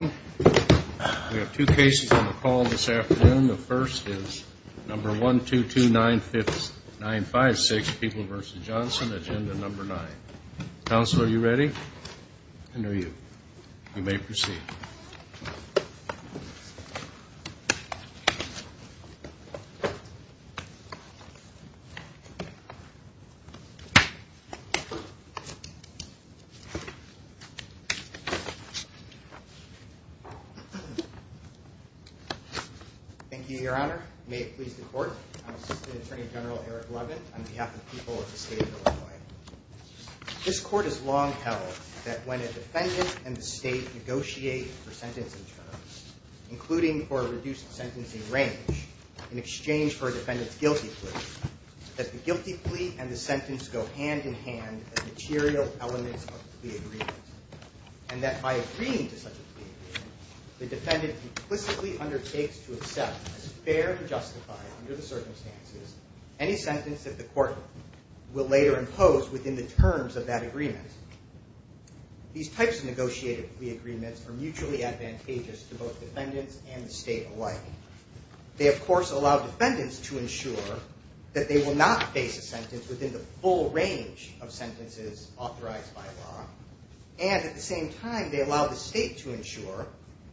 We have two cases on the call this afternoon. The first is number 122956, People v. Johnson, Agenda 9. Counselor, are you ready? And are you? You may proceed. Thank you, Your Honor. May it please the Court. I'm Assistant Attorney General Eric Levin on behalf of the people of the state of Illinois. This Court has long held that when a defendant and the state negotiate for sentencing terms, including for a reduced sentencing range in exchange for a defendant's guilty plea, that the guilty plea and the sentence go hand-in-hand as material elements of the plea agreement, and that by agreeing to such a plea agreement, the defendant implicitly undertakes to accept, as fair and justified under the circumstances, any sentence that the court will later impose within the terms of that agreement. These types of negotiated plea agreements are mutually advantageous to both defendants and the state alike. They, of course, allow defendants to ensure that they will not face a sentence within the full range of sentences authorized by law, and at the same time, they allow the state to ensure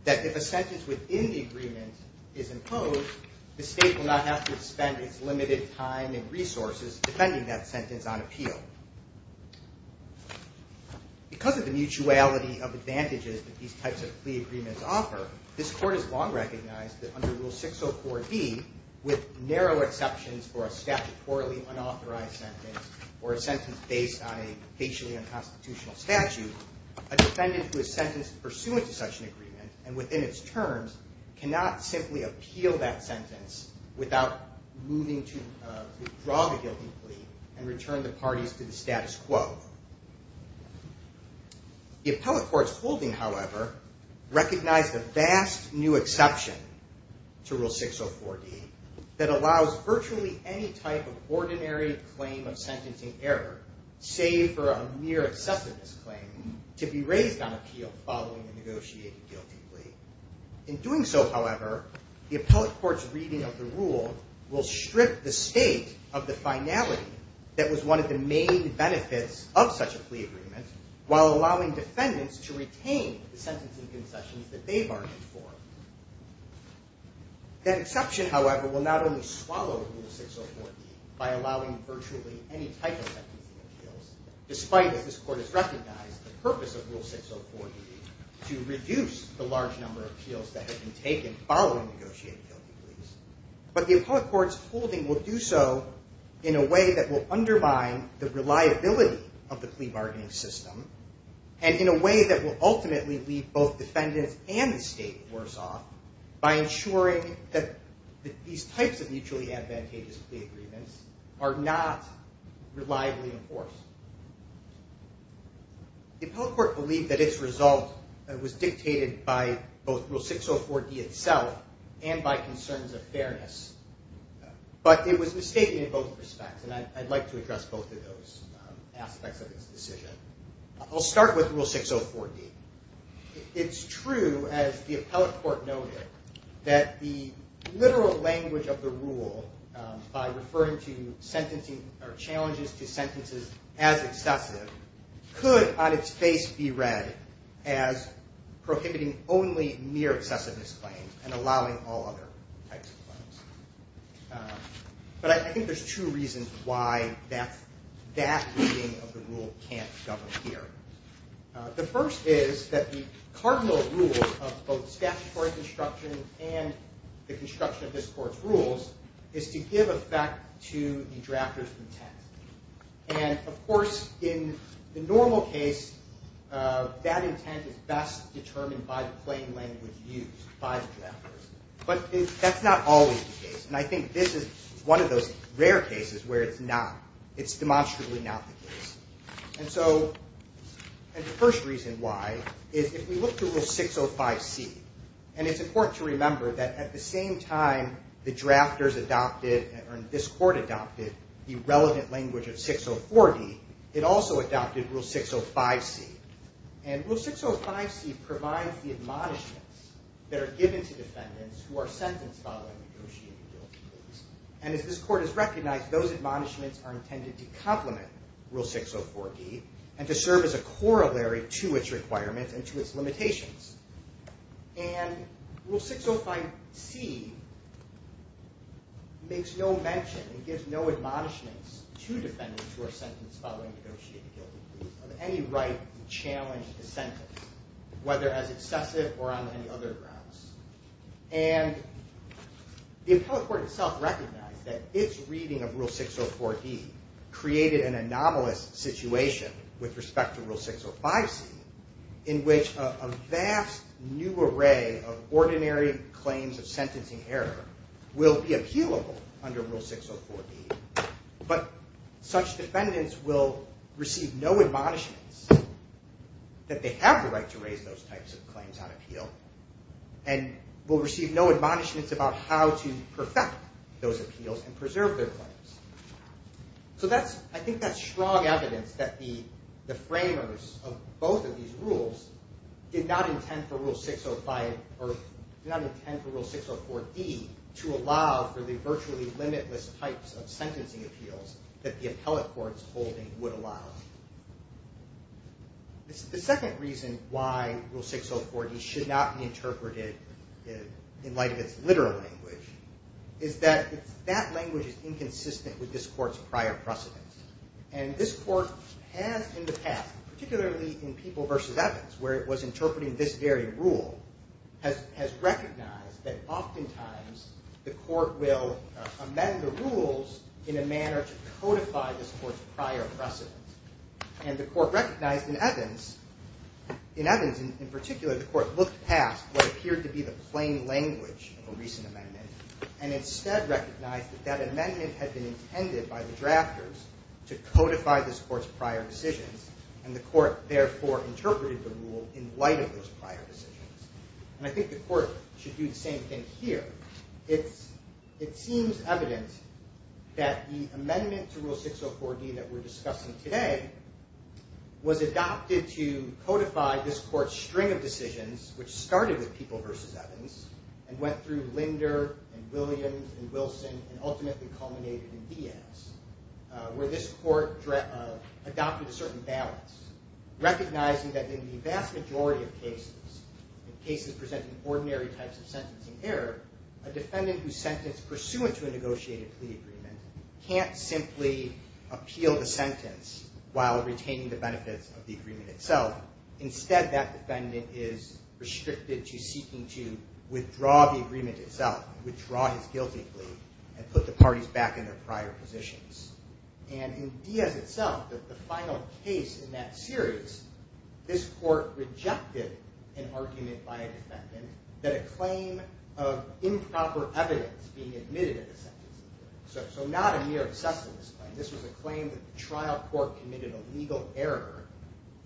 that if a sentence within the agreement is imposed, the state will not have to spend its limited time and resources defending that sentence on appeal. Because of the mutuality of advantages that these types of plea agreements offer, this Court has long recognized that under Rule 604B, with narrow exceptions for a statutorily unauthorized sentence, or a sentence based on a facially unconstitutional statute, a defendant who is sentenced pursuant to such an agreement and within its terms cannot simply appeal that sentence without moving to withdraw the guilty plea and return the parties to the status quo. The appellate court's holding, however, recognized a vast new exception to Rule 604D that allows virtually any type of ordinary claim of sentencing error, save for a mere excessiveness claim, to be raised on appeal following a negotiated guilty plea. In doing so, however, the appellate court's reading of the rule will strip the state of the finality that was one of the main benefits of such a plea agreement, while allowing defendants to retain the sentencing concessions that they bargained for. That exception, however, will not only swallow Rule 604D by allowing virtually any type of sentencing appeals, despite, as this court has recognized, the purpose of Rule 604D, to reduce the large number of appeals that have been taken following negotiated guilty pleas, but the appellate court's holding will do so in a way that will undermine the reliability of the plea bargaining system and in a way that will ultimately leave both defendants and the state worse off by ensuring that these types of mutually advantageous plea agreements are not reliably enforced. The appellate court believed that its result was dictated by both Rule 604D itself and by concerns of fairness, but it was mistaken in both respects, and I'd like to address both of those aspects of this decision. I'll start with Rule 604D. It's true, as the appellate court noted, that the literal language of the rule, by referring to sentencing or challenges to sentences as excessive, could on its face be read as prohibiting only mere excessiveness claims and allowing all other types of claims. But I think there's two reasons why that reading of the rule can't govern here. The first is that the cardinal rule of both statutory construction and the construction of this court's rules is to give effect to the drafter's intent. And, of course, in the normal case, that intent is best determined by the plain language used by the drafters. But that's not always the case, and I think this is one of those rare cases where it's not. It's demonstrably not the case. And so the first reason why is if we look to Rule 605C, and it's important to remember that at the same time the drafters adopted, or this court adopted, the relevant language of 604D, it also adopted Rule 605C. And Rule 605C provides the admonishments that are given to defendants who are sentenced following negotiated guilty pleas. And as this court has recognized, those admonishments are intended to complement Rule 604D and to serve as a corollary to its requirements and to its limitations. And Rule 605C makes no mention and gives no admonishments to defendants who are sentenced following negotiated guilty pleas of any right to challenge dissent, whether as excessive or on any other grounds. And the appellate court itself recognized that its reading of Rule 604D created an anomalous situation with respect to Rule 605C in which a vast new array of ordinary claims of sentencing error will be appealable under Rule 604D, but such defendants will receive no admonishments that they have the right to raise those types of claims on appeal, and will receive no admonishments about how to perfect those appeals and preserve their claims. So I think that's strong evidence that the framers of both of these rules did not intend for Rule 604D to allow for the virtually limitless types of sentencing appeals that the appellate court's holding would allow. The second reason why Rule 604D should not be interpreted in light of its literal language is that that language is inconsistent with this court's prior precedence. And this court has in the past, particularly in People v. Evans, where it was interpreting this very rule, has recognized that oftentimes the court will amend the rules in a manner to codify this court's prior precedence. And the court recognized in Evans, in Evans in particular, the court looked past what appeared to be the plain language of a recent amendment, and instead recognized that that amendment had been intended by the drafters to codify this court's prior decisions, and the court therefore interpreted the rule in light of those prior decisions. And I think the court should do the same thing here. It seems evident that the amendment to Rule 604D that we're discussing today was adopted to codify this court's string of decisions, which started with People v. Evans, and went through Linder and Williams and Wilson, and ultimately culminated in Diaz, where this court adopted a certain balance, recognizing that in the vast majority of cases, in cases presenting ordinary types of sentencing error, a defendant who's sentenced pursuant to a negotiated plea agreement can't simply appeal the sentence while retaining the benefits of the agreement itself. Instead, that defendant is restricted to seeking to withdraw the agreement itself, withdraw his guilty plea, and put the parties back in their prior positions. And in Diaz itself, the final case in that series, this court rejected an argument by a defendant that a claim of improper evidence being admitted at the sentencing, so not a mere obsessiveness claim, this was a claim that the trial court committed a legal error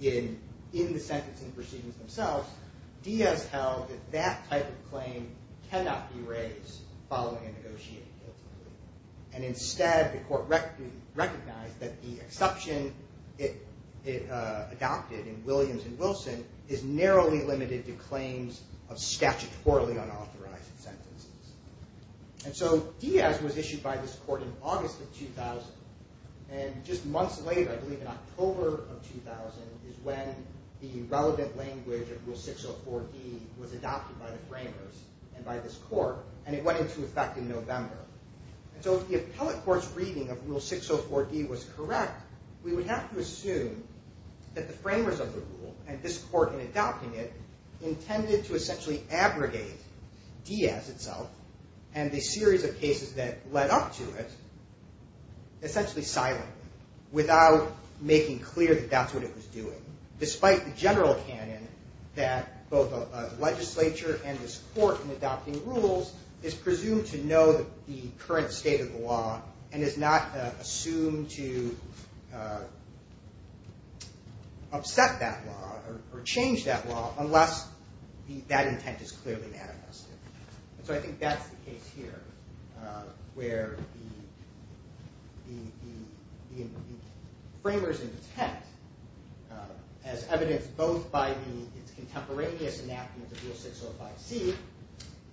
in the sentencing proceedings themselves. Diaz held that that type of claim cannot be raised following a negotiated guilty plea. And instead, the court recognized that the exception it adopted in Williams and Wilson is narrowly limited to claims of statutorily unauthorized sentences. And so Diaz was issued by this court in August of 2000, and just months later, I believe in October of 2000, is when the relevant language of Rule 604D was adopted by the framers and by this court, and it went into effect in November. And so if the appellate court's reading of Rule 604D was correct, we would have to assume that the framers of the rule and this court in adopting it intended to essentially abrogate Diaz itself and the series of cases that led up to it essentially silently without making clear that that's what it was doing. Despite the general canon that both the legislature and this court in adopting rules is presumed to know the current state of the law and is not assumed to upset that law or change that law unless that intent is clearly manifested. And so I think that's the case here where the framers intent, as evidenced both by the contemporaneous enactment of Rule 605C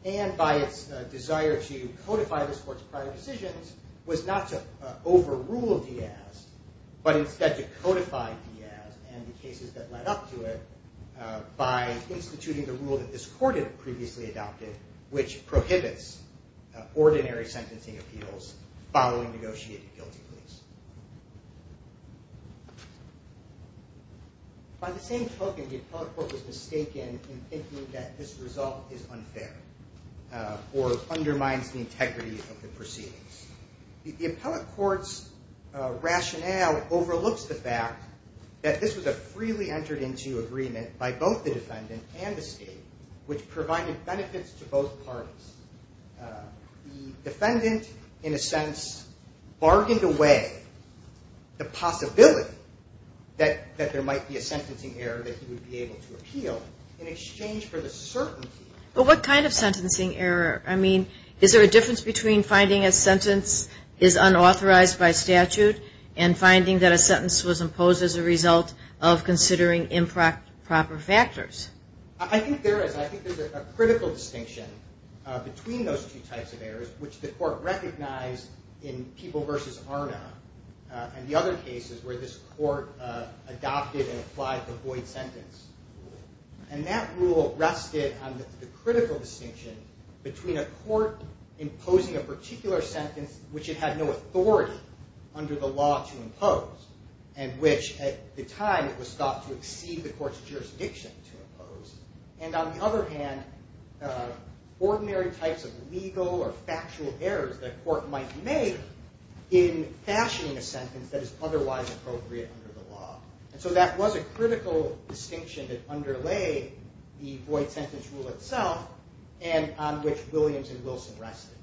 and by its desire to codify this court's prior decisions, was not to overrule Diaz, but instead to codify Diaz and the cases that led up to it by instituting the rule that this court had previously adopted which prohibits ordinary sentencing appeals following negotiated guilty pleas. By the same token, the appellate court was mistaken in thinking that this result is unfair or undermines the integrity of the proceedings. The appellate court's rationale overlooks the fact that this was a freely entered into agreement by both the defendant and the state which provided benefits to both parties. The defendant in a sense bargained away the possibility that there might be a sentencing error that he would be able to appeal in exchange for the certainty. But what kind of sentencing error? I mean, is there a difference between finding a sentence is unauthorized by statute and finding that a sentence was imposed as a result of considering improper factors? I think there is. I think there's a critical distinction between those two types of errors, which the court recognized in People v. Arna and the other cases where this court adopted and applied the void sentence. And that rule rested on the critical distinction between a court imposing a particular sentence which it had no authority under the law to impose and which at the time it was thought to exceed the court's jurisdiction to impose. And on the other hand, ordinary types of legal or factual errors that a court might make in fashioning a sentence that is otherwise appropriate under the law. And so that was a critical distinction that underlay the void sentence rule itself and on which Williams and Wilson rested.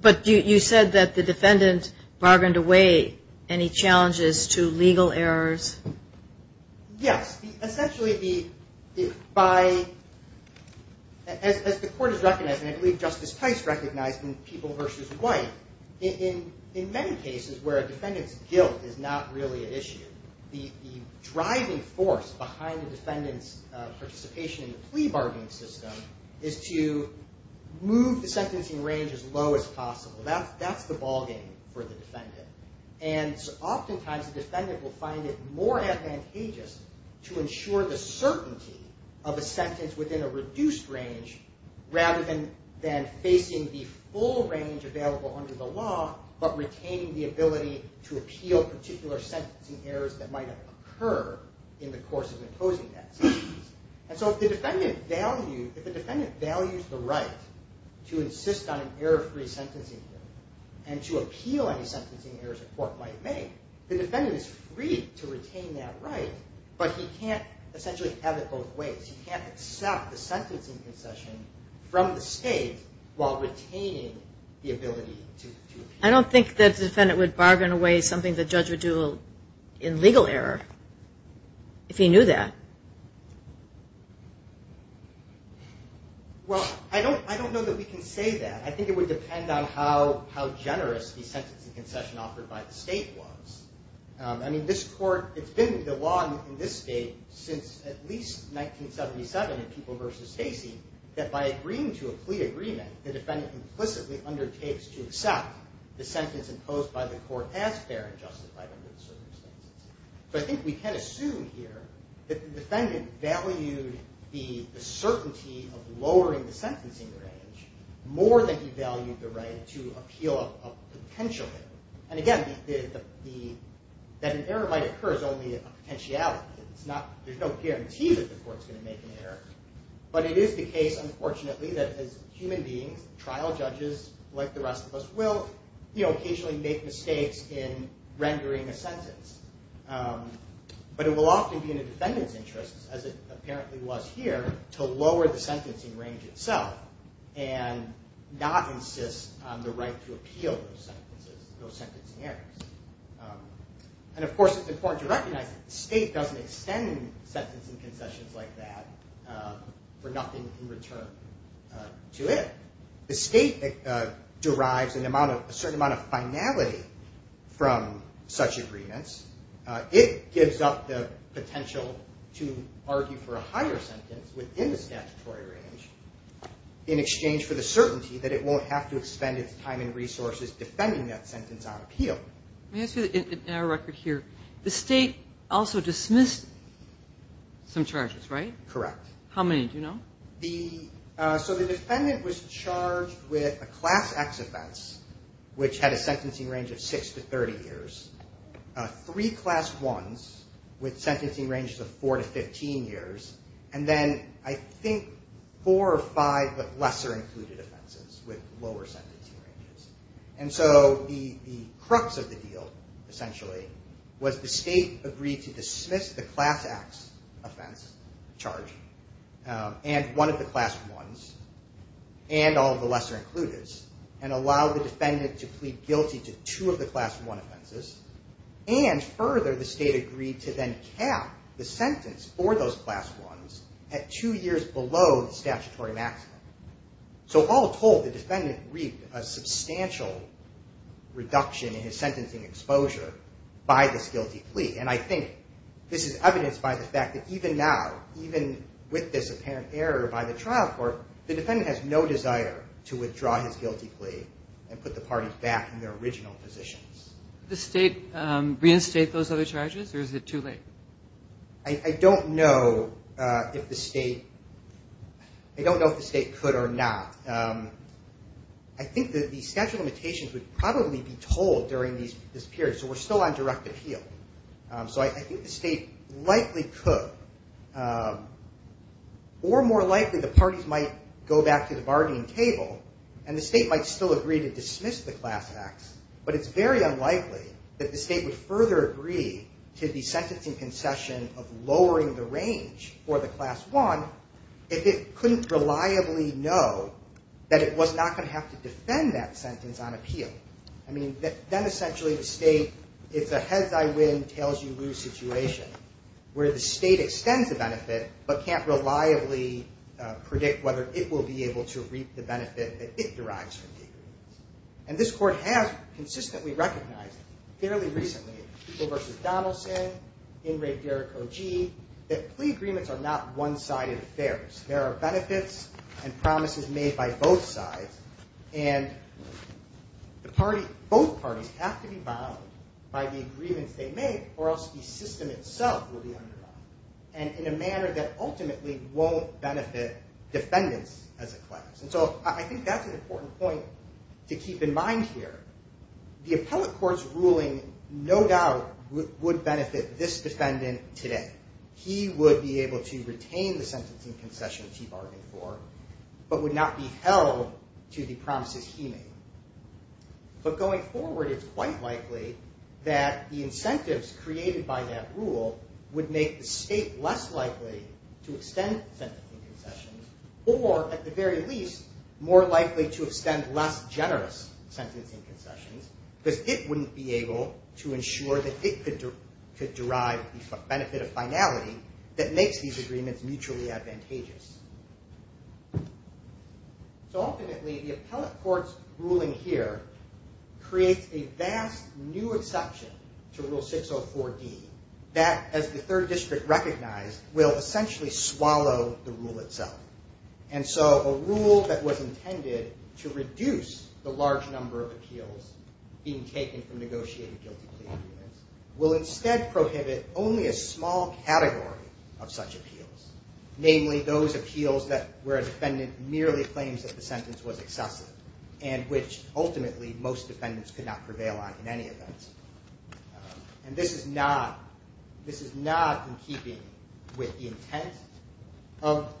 But you said that the defendant bargained away any challenges to legal errors. Yes. Essentially, as the court has recognized, and I believe Justice Tice recognized in People v. White, in many cases where a defendant's guilt is not really an issue, the driving force behind the defendant's participation in the plea bargaining system is to move the sentencing range as low as possible. That's the ballgame for the defendant. And oftentimes the defendant will find it more advantageous to ensure the certainty of a sentence within a reduced range rather than facing the full range available under the law but retaining the ability to appeal particular sentencing errors that might occur in the course of imposing that sentence. And so if the defendant values the right to insist on an error-free sentencing and to appeal any sentencing errors a court might make, the defendant is free to retain that right, but he can't essentially have it both ways. He can't accept the sentencing concession from the state while retaining the ability to appeal. I don't think that the defendant would bargain away something the judge would do in legal error if he knew that. Well, I don't know that we can say that. I think it would depend on how generous the sentencing concession offered by the state was. I mean, it's been the law in this state since at least 1977 in People v. Casey that by agreeing to a plea agreement the defendant implicitly undertakes to accept the sentence imposed by the court as fair and justified under the circumstances. So I think we can assume here that the defendant valued the certainty of lowering the sentencing range more than he valued the right to appeal a potential error. And again, that an error might occur is only a potentiality. There's no guarantee that the court's going to make an error. But it is the case, unfortunately, that as human beings, trial judges like the rest of us will occasionally make mistakes in rendering a sentence. But it will often be in a defendant's interest, as it apparently was here, to lower the sentencing range itself and not insist on the right to appeal those sentences, those sentencing errors. And of course, it's important to recognize that the state doesn't extend sentencing concessions like that for nothing in return to it. The state derives a certain amount of finality from such agreements. It gives up the potential to argue for a higher sentence within the statutory range in exchange for the certainty that it won't have to expend its time and resources defending that sentence on appeal. Let me ask you, in our record here, the state also dismissed some charges, right? Correct. How many? Do you know? So the defendant was charged with a Class X offense, which had a sentencing range of six to 30 years, three Class Is with sentencing ranges of four to 15 years, and then I think four or five but lesser included offenses with lower sentencing ranges. And so the crux of the deal, essentially, was the state agreed to dismiss the Class X offense charge and one of the Class I's and all of the lesser included's and allow the defendant to plead guilty to two of the Class I offenses. And further, the state agreed to then cap the sentence for those Class Is at two years below the statutory maximum. So all told, the defendant reaped a substantial reduction in his sentencing exposure by this guilty plea, and I think this is evidenced by the fact that even now, even with this apparent error by the trial court, the defendant has no desire to withdraw his guilty plea and put the parties back in their original positions. Did the state reinstate those other charges, or is it too late? I don't know if the state could or not. I think that the statute of limitations would probably be told during this period, so we're still on direct appeal. So I think the state likely could, or more likely the parties might go back to the bargaining table and the state might still agree to dismiss the Class X, but it's very unlikely that the state would further agree to the sentencing concession of lowering the range for the Class I if it couldn't reliably know that it was not going to have to defend that sentence on appeal. I mean, then essentially the state is a heads-I-win, tails-you-lose situation where the state extends the benefit but can't reliably predict whether it will be able to reap the benefit that it derives from taking the case. And this court has consistently recognized, fairly recently, in People v. Donaldson, in Ray Derrick O.G., that plea agreements are not one-sided affairs. There are benefits and promises made by both sides, and both parties have to be bound by the agreements they make or else the system itself will be undergone, and in a manner that ultimately won't benefit defendants as a class. And so I think that's an important point to keep in mind here. The appellate court's ruling no doubt would benefit this defendant today. He would be able to retain the sentencing concession that he bargained for but would not be held to the promises he made. But going forward it's quite likely that the incentives created by that rule would make the state less likely to extend sentencing concessions or, at the very least, more likely to extend less generous sentencing concessions because it wouldn't be able to ensure that it could derive the benefit of finality that makes these agreements mutually advantageous. So ultimately the appellate court's ruling here creates a vast new exception to Rule 604D that, as the Third District recognized, will essentially swallow the rule itself. And so a rule that was intended to reduce the large number of appeals being taken from negotiated guilty plea agreements will instead prohibit only a small category of such appeals, namely those appeals where a defendant merely claims that the sentence was excessive and which ultimately most defendants could not prevail on in any event. And this is not in keeping with the intent of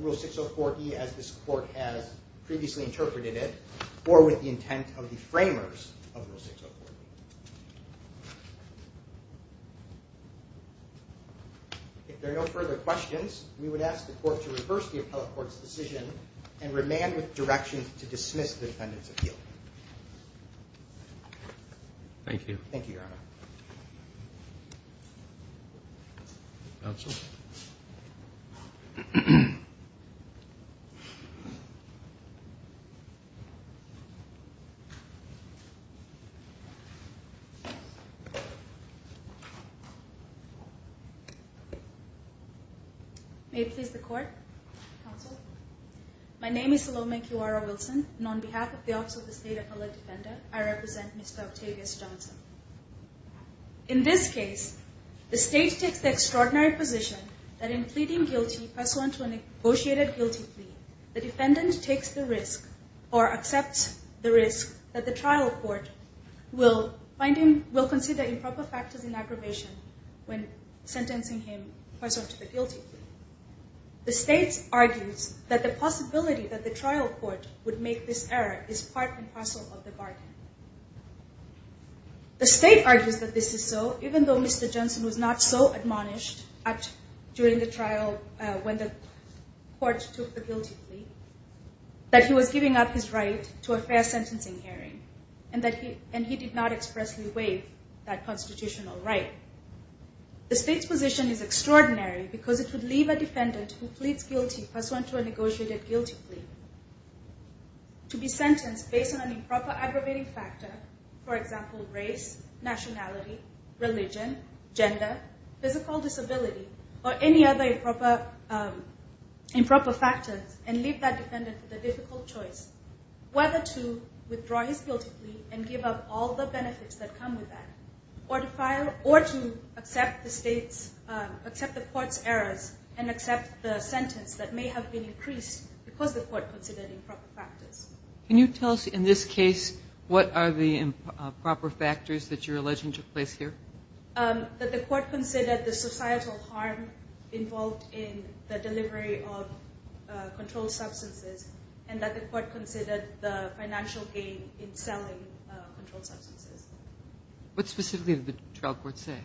Rule 604D as this Court has previously interpreted it or with the intent of the framers of Rule 604D. If there are no further questions, we would ask the Court to reverse the appellate court's decision and remand with directions to dismiss the defendant's appeal. Thank you. Thank you, Your Honor. May it please the Court. Counsel. My name is Salome Kiwara-Wilson and on behalf of the Office of the State Appellate Defender, I represent Mr. Octavius Johnson. In this case, the State takes the extraordinary position that in pleading guilty pursuant to a negotiated guilty plea, the defendant takes the risk or accepts the risk that the trial court will consider improper factors in aggravation when sentencing him pursuant to the guilty plea. The State argues that the possibility that the trial court would make this error is part and parcel of the bargain. The State argues that this is so, even though Mr. Johnson was not so admonished during the trial when the court took the guilty plea, that he was giving up his right to a fair sentencing hearing and he did not expressly waive that constitutional right. The State's position is extraordinary because it would leave a defendant who pleads guilty pursuant to a negotiated guilty plea to be sentenced based on an improper aggravating factor, for example, race, nationality, religion, gender, physical disability, or any other improper factors, and leave that defendant with a difficult choice whether to withdraw his guilty plea and give up all the benefits that come with that or to accept the court's errors and accept the sentence that may have been increased because the court considered improper factors. Can you tell us, in this case, what are the improper factors that you're alleging took place here? That the court considered the societal harm involved in the delivery of controlled substances and that the court considered the financial gain in selling controlled substances. What specifically did the trial court say?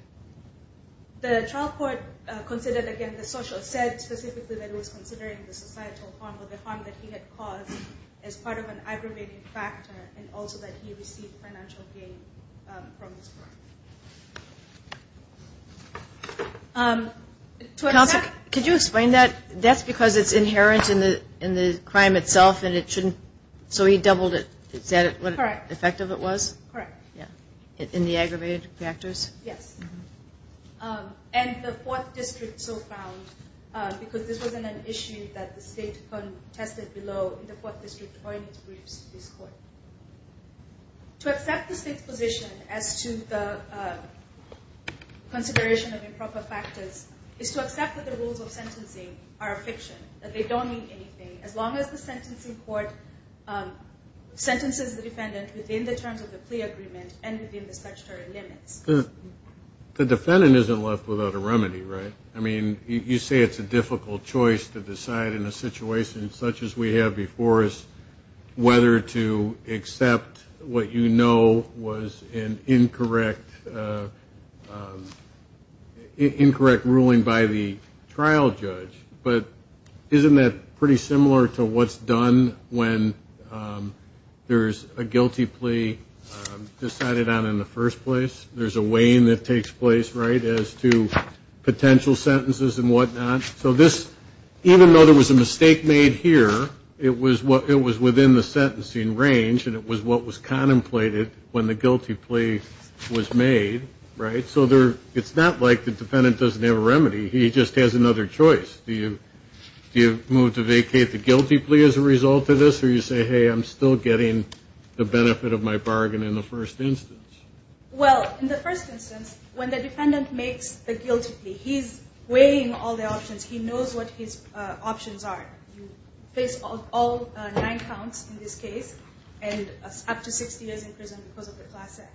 The trial court considered, again, the social, said specifically that it was considering the societal harm or the harm that he had caused as part of an aggravating factor and also that he received financial gain from this crime. Counsel, could you explain that? That's because it's inherent in the crime itself and it shouldn't, so he doubled it. Is that what effective it was? Correct. In the aggravated factors? Yes. And the Fourth District so found, because this wasn't an issue that the state contested below, the Fourth District owing its briefs to this court. To accept the state's position as to the consideration of improper factors is to accept that the rules of sentencing are a fiction, that they don't mean anything. As long as the sentencing court sentences the defendant within the terms of the plea agreement and within the statutory limits. The defendant isn't left without a remedy, right? I mean, you say it's a difficult choice to decide in a situation such as we have before us whether to accept what you know was an incorrect ruling by the trial judge, but isn't that pretty similar to what's done when there's a guilty plea decided on in the first place? There's a weighing that takes place, right, as to potential sentences and whatnot. So this, even though there was a mistake made here, it was within the sentencing range and it was what was contemplated when the guilty plea was made, right? So it's not like the defendant doesn't have a remedy. He just has another choice. Do you move to vacate the guilty plea as a result of this or do you say, hey, I'm still getting the benefit of my bargain in the first instance? Well, in the first instance, when the defendant makes the guilty plea, he's weighing all the options. He knows what his options are. You face all nine counts in this case and up to 60 years in prison because of the Class X.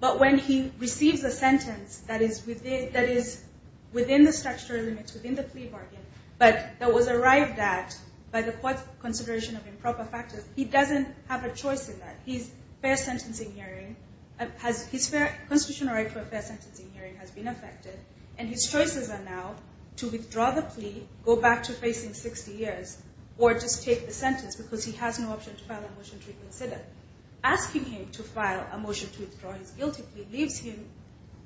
But when he receives a sentence that is within the statutory limits, within the plea bargain, but that was arrived at by the court's consideration of improper factors, he doesn't have a choice in that. His constitutional right for a fair sentencing hearing has been affected and his choices are now to withdraw the plea, go back to facing 60 years, or just take the sentence because he has no option to file a motion to reconsider. Asking him to file a motion to withdraw his guilty plea leaves him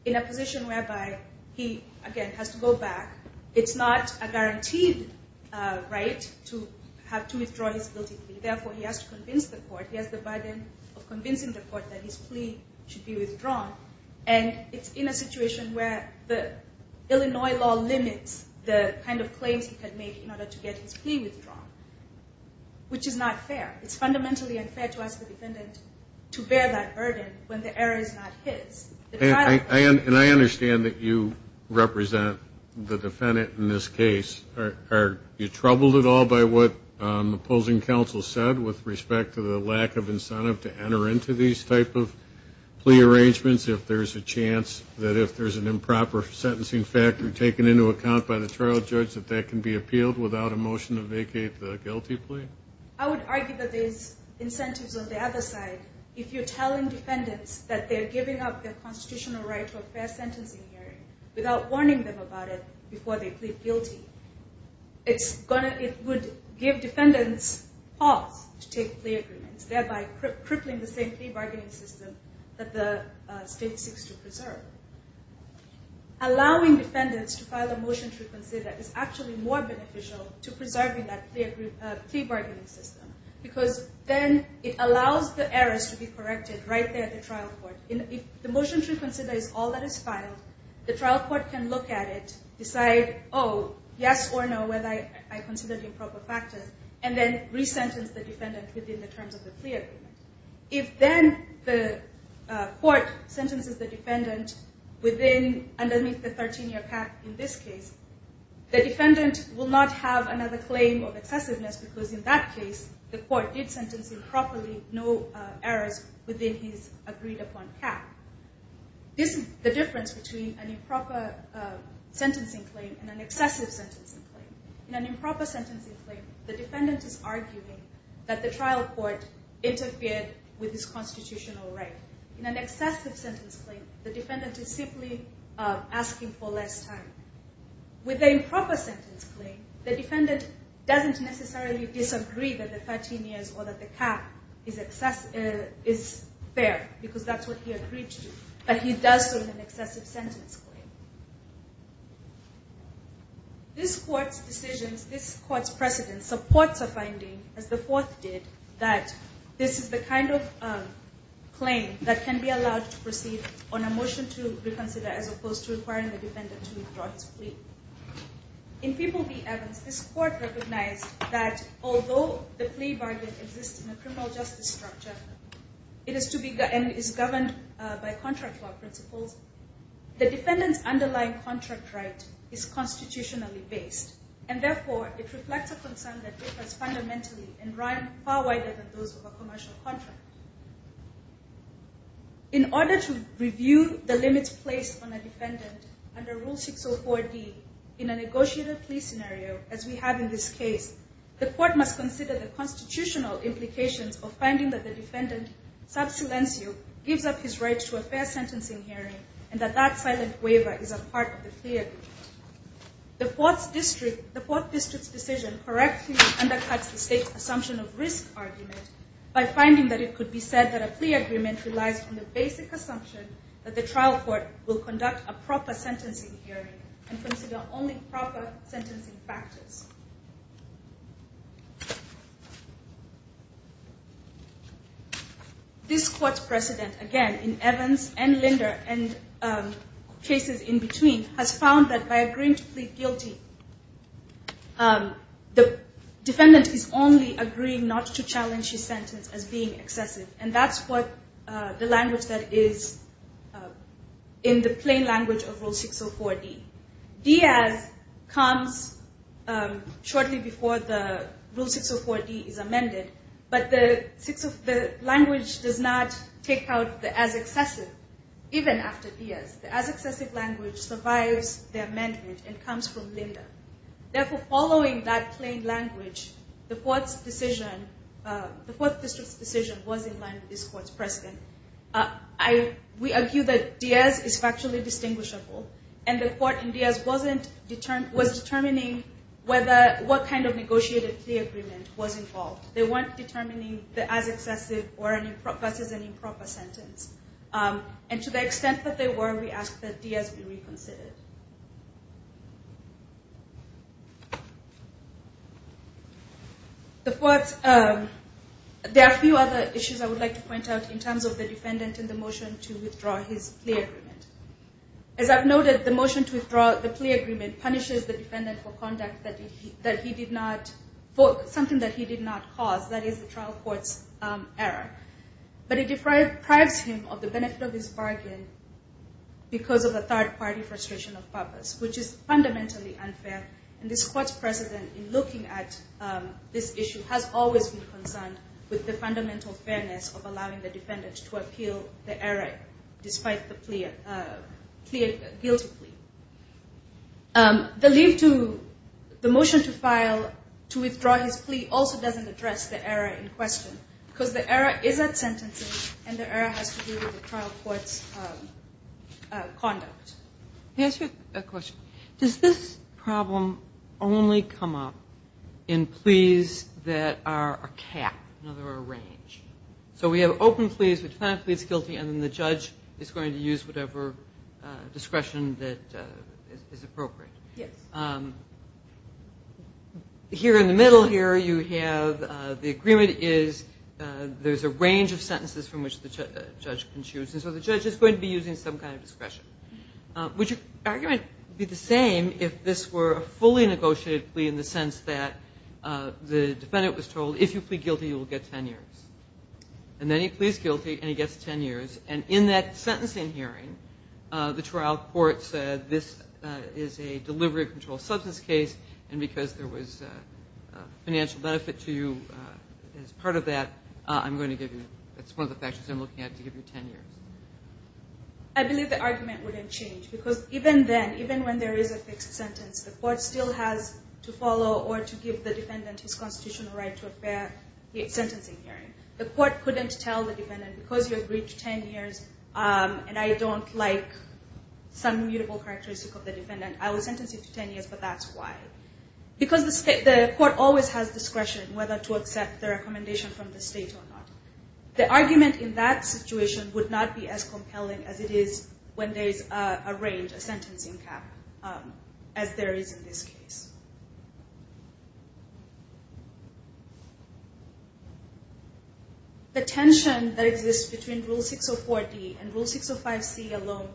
in a position whereby he, again, has to go back. It's not a guaranteed right to have to withdraw his guilty plea. Therefore, he has to convince the court. He has the burden of convincing the court that his plea should be withdrawn. And it's in a situation where the Illinois law limits the kind of claims he can make in order to get his plea withdrawn, which is not fair. It's fundamentally unfair to ask the defendant to bear that burden when the error is not his. And I understand that you represent the defendant in this case. Are you troubled at all by what opposing counsel said with respect to the lack of incentive to enter into these type of plea arrangements if there's a chance that if there's an improper sentencing factor taken into account by the trial judge that that can be appealed without a motion to vacate the guilty plea? I would argue that there's incentives on the other side. If you're telling defendants that they're giving up their constitutional right to a fair sentencing hearing without warning them about it before they plead guilty, it would give defendants pause to take plea agreements, thereby crippling the same plea bargaining system that the state seeks to preserve. Allowing defendants to file a motion to reconsider is actually more beneficial to preserving that plea bargaining system because then it allows the errors to be corrected right there at the trial court. If the motion to reconsider is all that is filed, the trial court can look at it, decide, oh, yes or no, whether I consider the improper factors, and then re-sentence the defendant within the terms of the plea agreement. If then the court sentences the defendant underneath the 13-year path in this case, the defendant will not have another claim of excessiveness because in that case the court did sentence improperly, no errors within his agreed-upon path. This is the difference between an improper sentencing claim and an excessive sentencing claim. In an improper sentencing claim, the defendant is arguing that the trial court interfered with his constitutional right. In an excessive sentence claim, the defendant is simply asking for less time. With an improper sentence claim, the defendant doesn't necessarily disagree that the 13 years or that the cap is fair because that's what he agreed to, but he does so in an excessive sentence claim. This court's decisions, this court's precedent supports a finding, as the fourth did, that this is the kind of claim that can be allowed to proceed on a motion to reconsider as opposed to requiring the defendant to withdraw his plea. In People v. Evans, this court recognized that although the plea bargain exists in a criminal justice structure, it is governed by contract law principles, the defendant's underlying contract right is constitutionally based, and therefore it reflects a concern that differs fundamentally and run far wider than those of a commercial contract. In order to review the limits placed on a defendant, under Rule 604D, in a negotiated plea scenario, as we have in this case, the court must consider the constitutional implications of finding that the defendant, sub silencio, gives up his rights to a fair sentencing hearing and that that silent waiver is a part of the plea agreement. The court district's decision correctly undercuts the state's assumption of risk argument by finding that it could be said that a plea agreement relies on the basic assumption that the trial court will conduct a proper sentencing hearing and consider only proper sentencing factors. This court's precedent, again, in Evans and Linder and cases in between, has found that by agreeing to plead guilty, the defendant is only agreeing not to challenge his sentence as being excessive, and that's what the language that is in the plain language of Rule 604D. Diaz comes shortly before the Rule 604D is amended, but the language does not take out the as excessive, even after Diaz. The as excessive language survives the amendment and comes from Linder. Therefore, following that plain language, the court district's decision was in line with this court's precedent. We argue that Diaz is factually distinguishable, and the court in Diaz was determining what kind of negotiated plea agreement was involved. They weren't determining the as excessive versus an improper sentence. And to the extent that they were, we ask that Diaz be reconsidered. There are a few other issues I would like to point out in terms of the defendant in the motion to withdraw his plea agreement. As I've noted, the motion to withdraw the plea agreement punishes the defendant for something that he did not cause, that is, the trial court's error. But it deprives him of the benefit of his bargain because of a third-party frustration of purpose, which is fundamentally unfair. And this court's precedent in looking at this issue has always been concerned with the fundamental fairness of allowing the defendant to appeal the error despite the guilty plea. The leave to the motion to file to withdraw his plea also doesn't address the error in question because the error is at sentencing, and the error has to do with the trial court's conduct. Can I ask you a question? Does this problem only come up in pleas that are a cap, in other words, a range? So we have open pleas with defendant pleads guilty, and then the judge is going to use whatever discretion that is appropriate. Yes. Here in the middle here you have the agreement is there's a range of sentences from which the judge can choose, and so the judge is going to be using some kind of discretion. Would your argument be the same if this were a fully negotiated plea in the sense that the defendant was told, if you plead guilty you will get ten years? And then he pleads guilty and he gets ten years, and in that sentencing hearing the trial court said, this is a delivery of controlled substance case, and because there was financial benefit to you as part of that, I'm going to give you, that's one of the factors I'm looking at, to give you ten years. I believe the argument wouldn't change because even then, even when there is a fixed sentence, the court still has to follow or to give the defendant his constitutional right to a fair sentencing hearing. The court couldn't tell the defendant, because you agreed to ten years, and I don't like some mutable characteristic of the defendant, I will sentence you to ten years, but that's why. Because the court always has discretion whether to accept the recommendation from the state or not. The argument in that situation would not be as compelling as it is when there is a range, a sentencing cap, as there is in this case. The tension that exists between Rule 604D and Rule 605C alone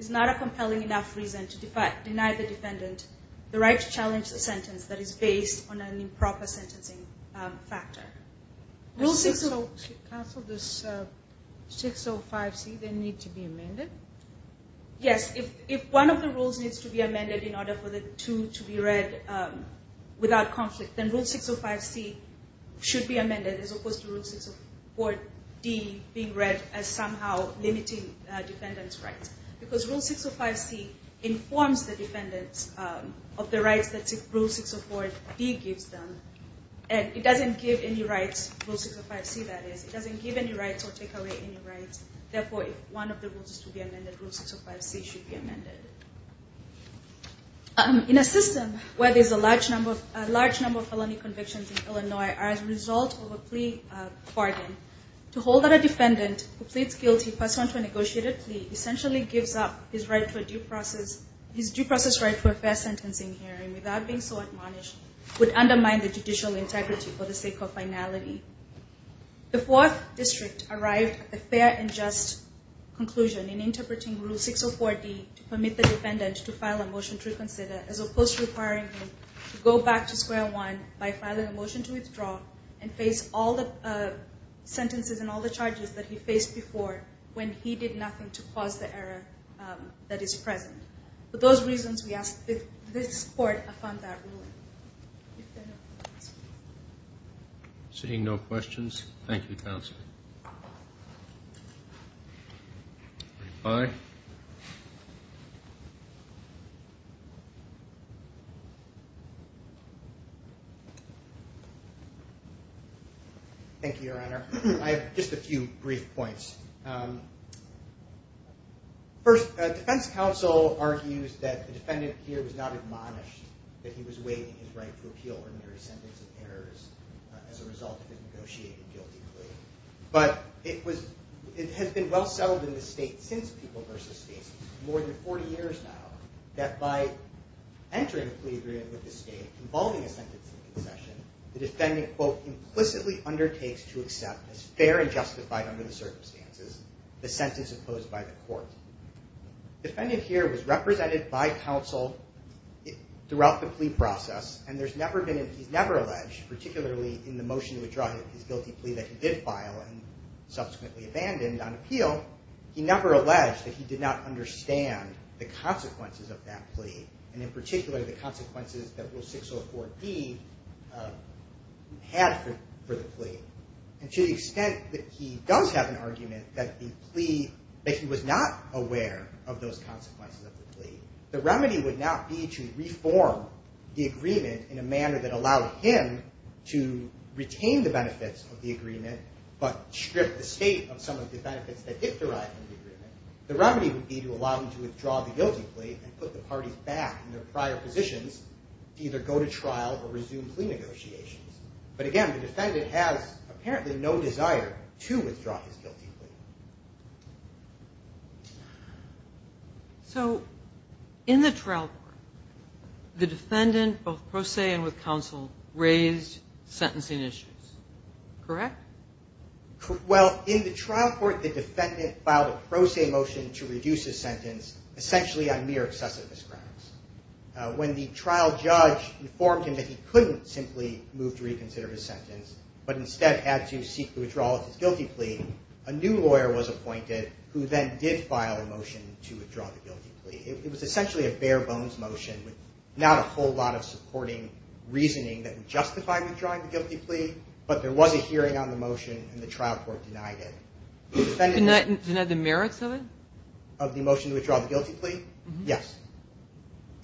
is not a compelling enough reason to deny the defendant the right to challenge the sentence that is based on an improper sentencing factor. Does Rule 605C need to be amended? Yes. If one of the rules needs to be amended in order for the two to be read without conflict, then Rule 605C should be amended as opposed to Rule 604D being read as somehow limiting defendant's rights. Because Rule 605C informs the defendant of the rights that Rule 604D gives them, and it doesn't give any rights, Rule 605C that is. It doesn't give any rights or take away any rights. Therefore, if one of the rules is to be amended, Rule 605C should be amended. In a system where there's a large number of felony convictions in Illinois as a result of a plea bargain, to hold that a defendant who pleads guilty pursuant to a negotiated plea essentially gives up his due process right for a fair sentencing hearing without being so admonished would undermine the judicial integrity for the sake of finality. The Fourth District arrived at the fair and just conclusion in interpreting Rule 604D to permit the defendant to file a motion to reconsider as opposed to requiring him to go back to square one by filing a motion to withdraw and face all the sentences and all the charges that he faced before when he did nothing to cause the error that is present. For those reasons, we ask that this Court affirm that ruling. Thank you, Your Honor. I have just a few brief points. First, the defense counsel argues that the defendant here was not admonished, that he was waiving his right to appeal for a mere sentence of errors as a result of his negotiated guilty plea. But it has been well settled in the state since People v. Spaces, more than 40 years now, that by entering a plea agreement with the state involving a sentencing concession, the defendant, quote, implicitly undertakes to accept as fair and justified under the circumstances the sentence imposed by the court. The defendant here was represented by counsel throughout the plea process, and he's never alleged, particularly in the motion to withdraw his guilty plea that he did file and subsequently abandoned on appeal, he never alleged that he did not understand the consequences of that plea, and in particular the consequences that Rule 604D had for the plea. And to the extent that he does have an argument that the plea, the remedy would not be to reform the agreement in a manner that allowed him to retain the benefits of the agreement, but strip the state of some of the benefits that did derive from the agreement. The remedy would be to allow him to withdraw the guilty plea and put the parties back in their prior positions to either go to trial or resume plea negotiations. But again, the defendant has apparently no desire to withdraw his guilty plea. So in the trial court, the defendant, both pro se and with counsel, raised sentencing issues, correct? Well, in the trial court, the defendant filed a pro se motion to reduce his sentence, essentially on mere excessiveness grounds. When the trial judge informed him that he couldn't simply move to reconsider his sentence, but instead had to seek to withdraw his guilty plea, a new lawyer was appointed who then did file a motion to withdraw the guilty plea. It was essentially a bare bones motion with not a whole lot of supporting reasoning that would justify withdrawing the guilty plea, but there was a hearing on the motion and the trial court denied it. Denied the merits of it? Of the motion to withdraw the guilty plea? Yes.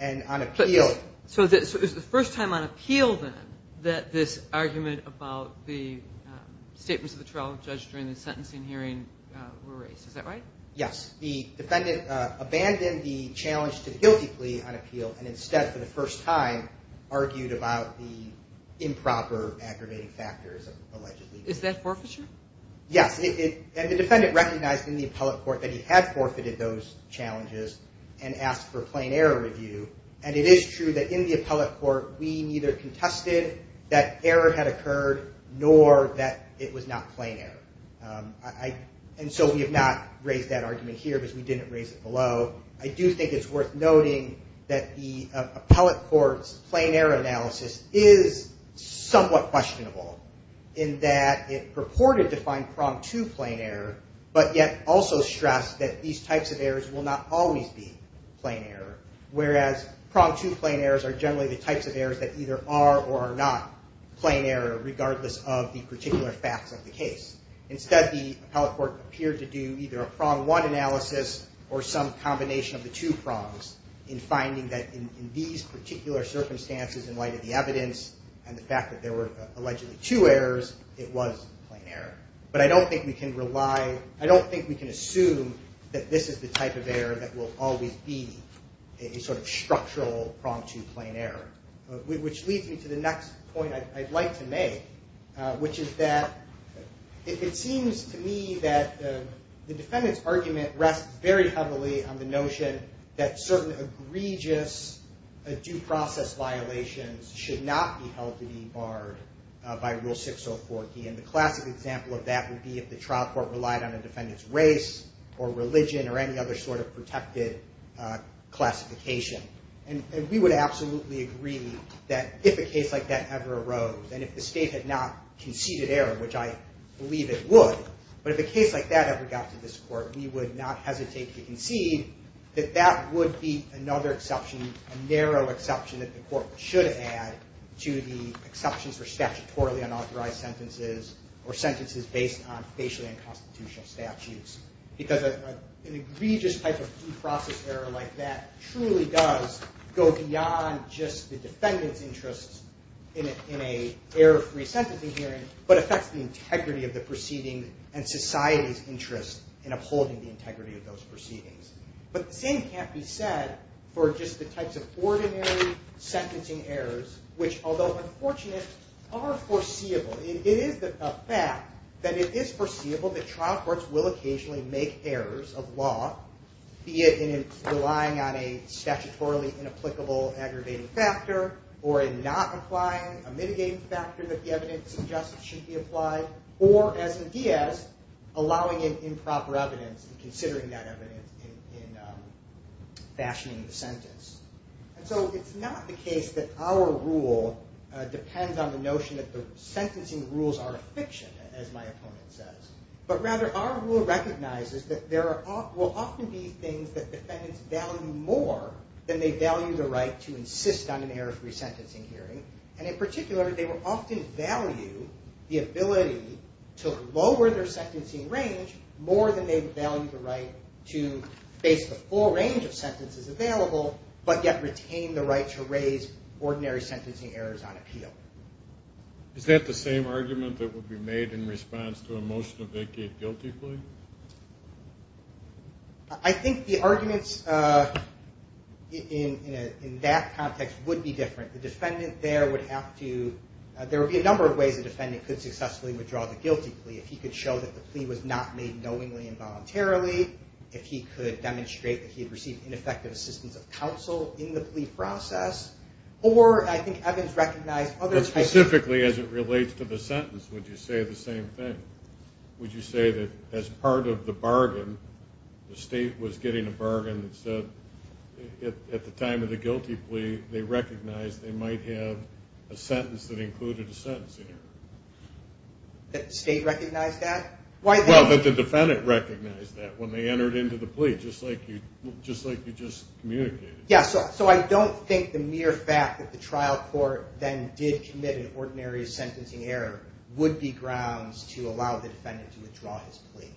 And on appeal. So it was the first time on appeal then that this argument about the statements of the trial judge during the sentencing hearing were raised. Is that right? Yes. The defendant abandoned the challenge to the guilty plea on appeal and instead, for the first time, argued about the improper aggravating factors of alleged legal abuse. Is that forfeiture? Yes. And the defendant recognized in the appellate court that he had forfeited those challenges and asked for a plain error review. And it is true that in the appellate court, we neither contested that error had occurred nor that it was not plain error. And so we have not raised that argument here because we didn't raise it below. I do think it's worth noting that the appellate court's plain error analysis is somewhat questionable in that it purported to find pronged to plain error, but yet also stressed that these types of errors will not always be plain error, whereas pronged to plain errors are generally the types of errors that either are or are not plain error regardless of the particular facts of the case. Instead, the appellate court appeared to do either a prong one analysis or some combination of the two prongs in finding that in these particular circumstances in light of the evidence and the fact that there were allegedly two errors, it was plain error. But I don't think we can rely, I don't think we can assume that this is the type of error that will always be a sort of structural pronged to plain error. Which leads me to the next point I'd like to make, which is that it seems to me that the defendant's argument rests very heavily on the notion that certain egregious due process violations should not be held to be barred by Rule 604D. And the classic example of that would be if the trial court relied on a defendant's race or religion or any other sort of protected classification. And we would absolutely agree that if a case like that ever arose, and if the state had not conceded error, which I believe it would, but if a case like that ever got to this court, we would not hesitate to concede that that would be another exception, a narrow exception that the court should add to the exceptions for statutorily unauthorized sentences or sentences based on facially unconstitutional statutes. Because an egregious type of due process error like that truly does go beyond just the defendant's interest in an error-free sentencing hearing, but affects the integrity of the proceedings and society's interest in upholding the integrity of those proceedings. But the same can't be said for just the types of ordinary sentencing errors, which although unfortunate, are foreseeable. It is a fact that it is foreseeable that trial courts will occasionally make errors of law, be it in relying on a statutorily inapplicable aggravating factor, or in not applying a mitigating factor that the evidence suggests should be applied, or as in Diaz, allowing improper evidence and considering that evidence in fashioning the sentence. And so it's not the case that our rule depends on the notion that the sentencing rules are a fiction, as my opponent says. But rather, our rule recognizes that there will often be things that defendants value more than they value the right to insist on an error-free sentencing hearing. And in particular, they will often value the ability to lower their sentencing range more than they value the right to face the full range of sentences available, but yet retain the right to raise ordinary sentencing errors on appeal. Is that the same argument that would be made in response to a motion to vacate guilty plea? I think the arguments in that context would be different. The defendant there would have to – there would be a number of ways the defendant could successfully withdraw the guilty plea if he could show that the plea was not made knowingly and voluntarily, if he could demonstrate that he had received ineffective assistance of counsel in the plea process, or I think Evans recognized other types of – But specifically as it relates to the sentence, would you say the same thing? Would you say that as part of the bargain, the state was getting a bargain that said at the time of the guilty plea, they recognized they might have a sentence that included a sentencing error? That the state recognized that? Well, that the defendant recognized that when they entered into the plea, just like you just communicated. Yeah, so I don't think the mere fact that the trial court then did commit an ordinary sentencing error would be grounds to allow the defendant to withdraw his plea.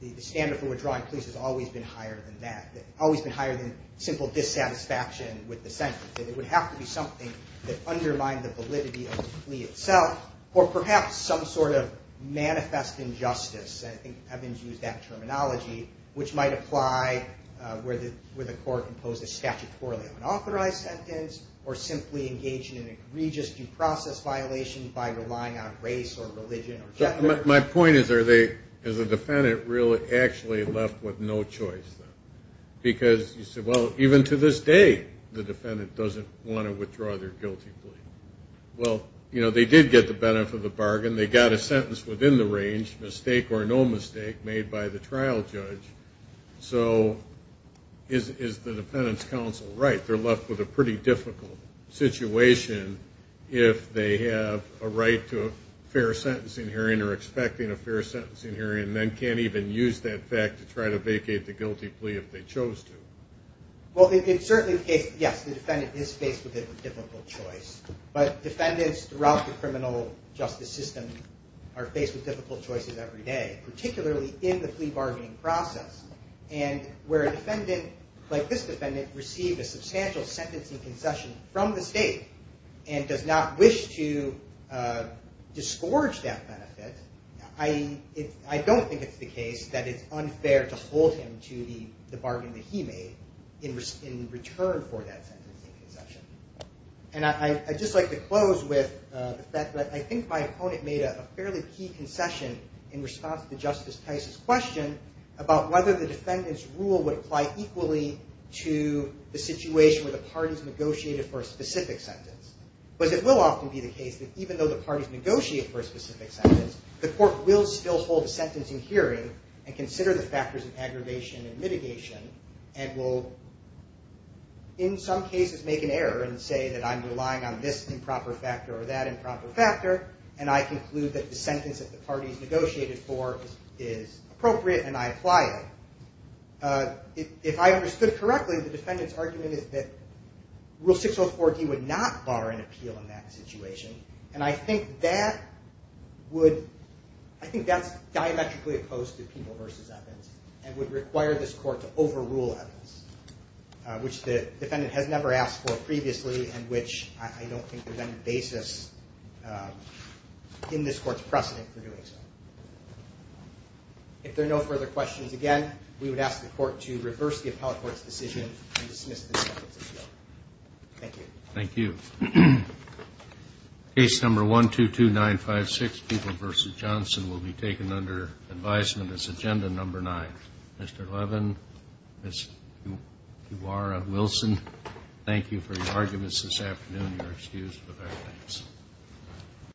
The standard for withdrawing pleas has always been higher than that, always been higher than simple dissatisfaction with the sentence. It would have to be something that undermined the validity of the plea itself or perhaps some sort of manifest injustice, and I think Evans used that terminology, which might apply where the court imposed a statutorily unauthorized sentence or simply engaged in an egregious due process violation by relying on race or religion. My point is, is the defendant really actually left with no choice? Because you said, well, even to this day, the defendant doesn't want to withdraw their guilty plea. Well, you know, they did get the benefit of the bargain. They got a sentence within the range, mistake or no mistake, made by the trial judge. So is the defendant's counsel right? They're left with a pretty difficult situation if they have a right to a fair sentencing hearing or expecting a fair sentencing hearing, and then can't even use that fact to try to vacate the guilty plea if they chose to. Well, it's certainly the case that, yes, the defendant is faced with a difficult choice, but defendants throughout the criminal justice system are faced with difficult choices every day, particularly in the plea bargaining process, and where a defendant like this defendant received a substantial sentencing concession from the state and does not wish to disgorge that benefit, I don't think it's the case that it's unfair to hold him to the bargain that he made in return for that sentencing concession. And I'd just like to close with the fact that I think my opponent made a fairly key concession in response to Justice Tice's question about whether the defendant's rule would apply equally to the situation where the parties negotiated for a specific sentence. But it will often be the case that even though the parties negotiate for a specific sentence, the court will still hold a sentencing hearing and consider the factors of aggravation and mitigation and will in some cases make an error and say that I'm relying on this improper factor or that improper factor, and I conclude that the sentence that the parties negotiated for is appropriate and I apply it. If I understood correctly, the defendant's argument is that Rule 604D would not bar an appeal in that situation, and I think that's diametrically opposed to Peeble v. Evans and would require this court to overrule Evans, which the defendant has never asked for previously and which I don't think there's any basis in this court's precedent for doing so. If there are no further questions, again, we would ask the court to reverse the appellate court's decision and dismiss the defendant's appeal. Thank you. Case number 122956, Peeble v. Johnson, will be taken under advisement as Agenda Number 9. Mr. Levin, Ms. Duara-Wilson, thank you for your arguments this afternoon. You are excused for that. Thanks.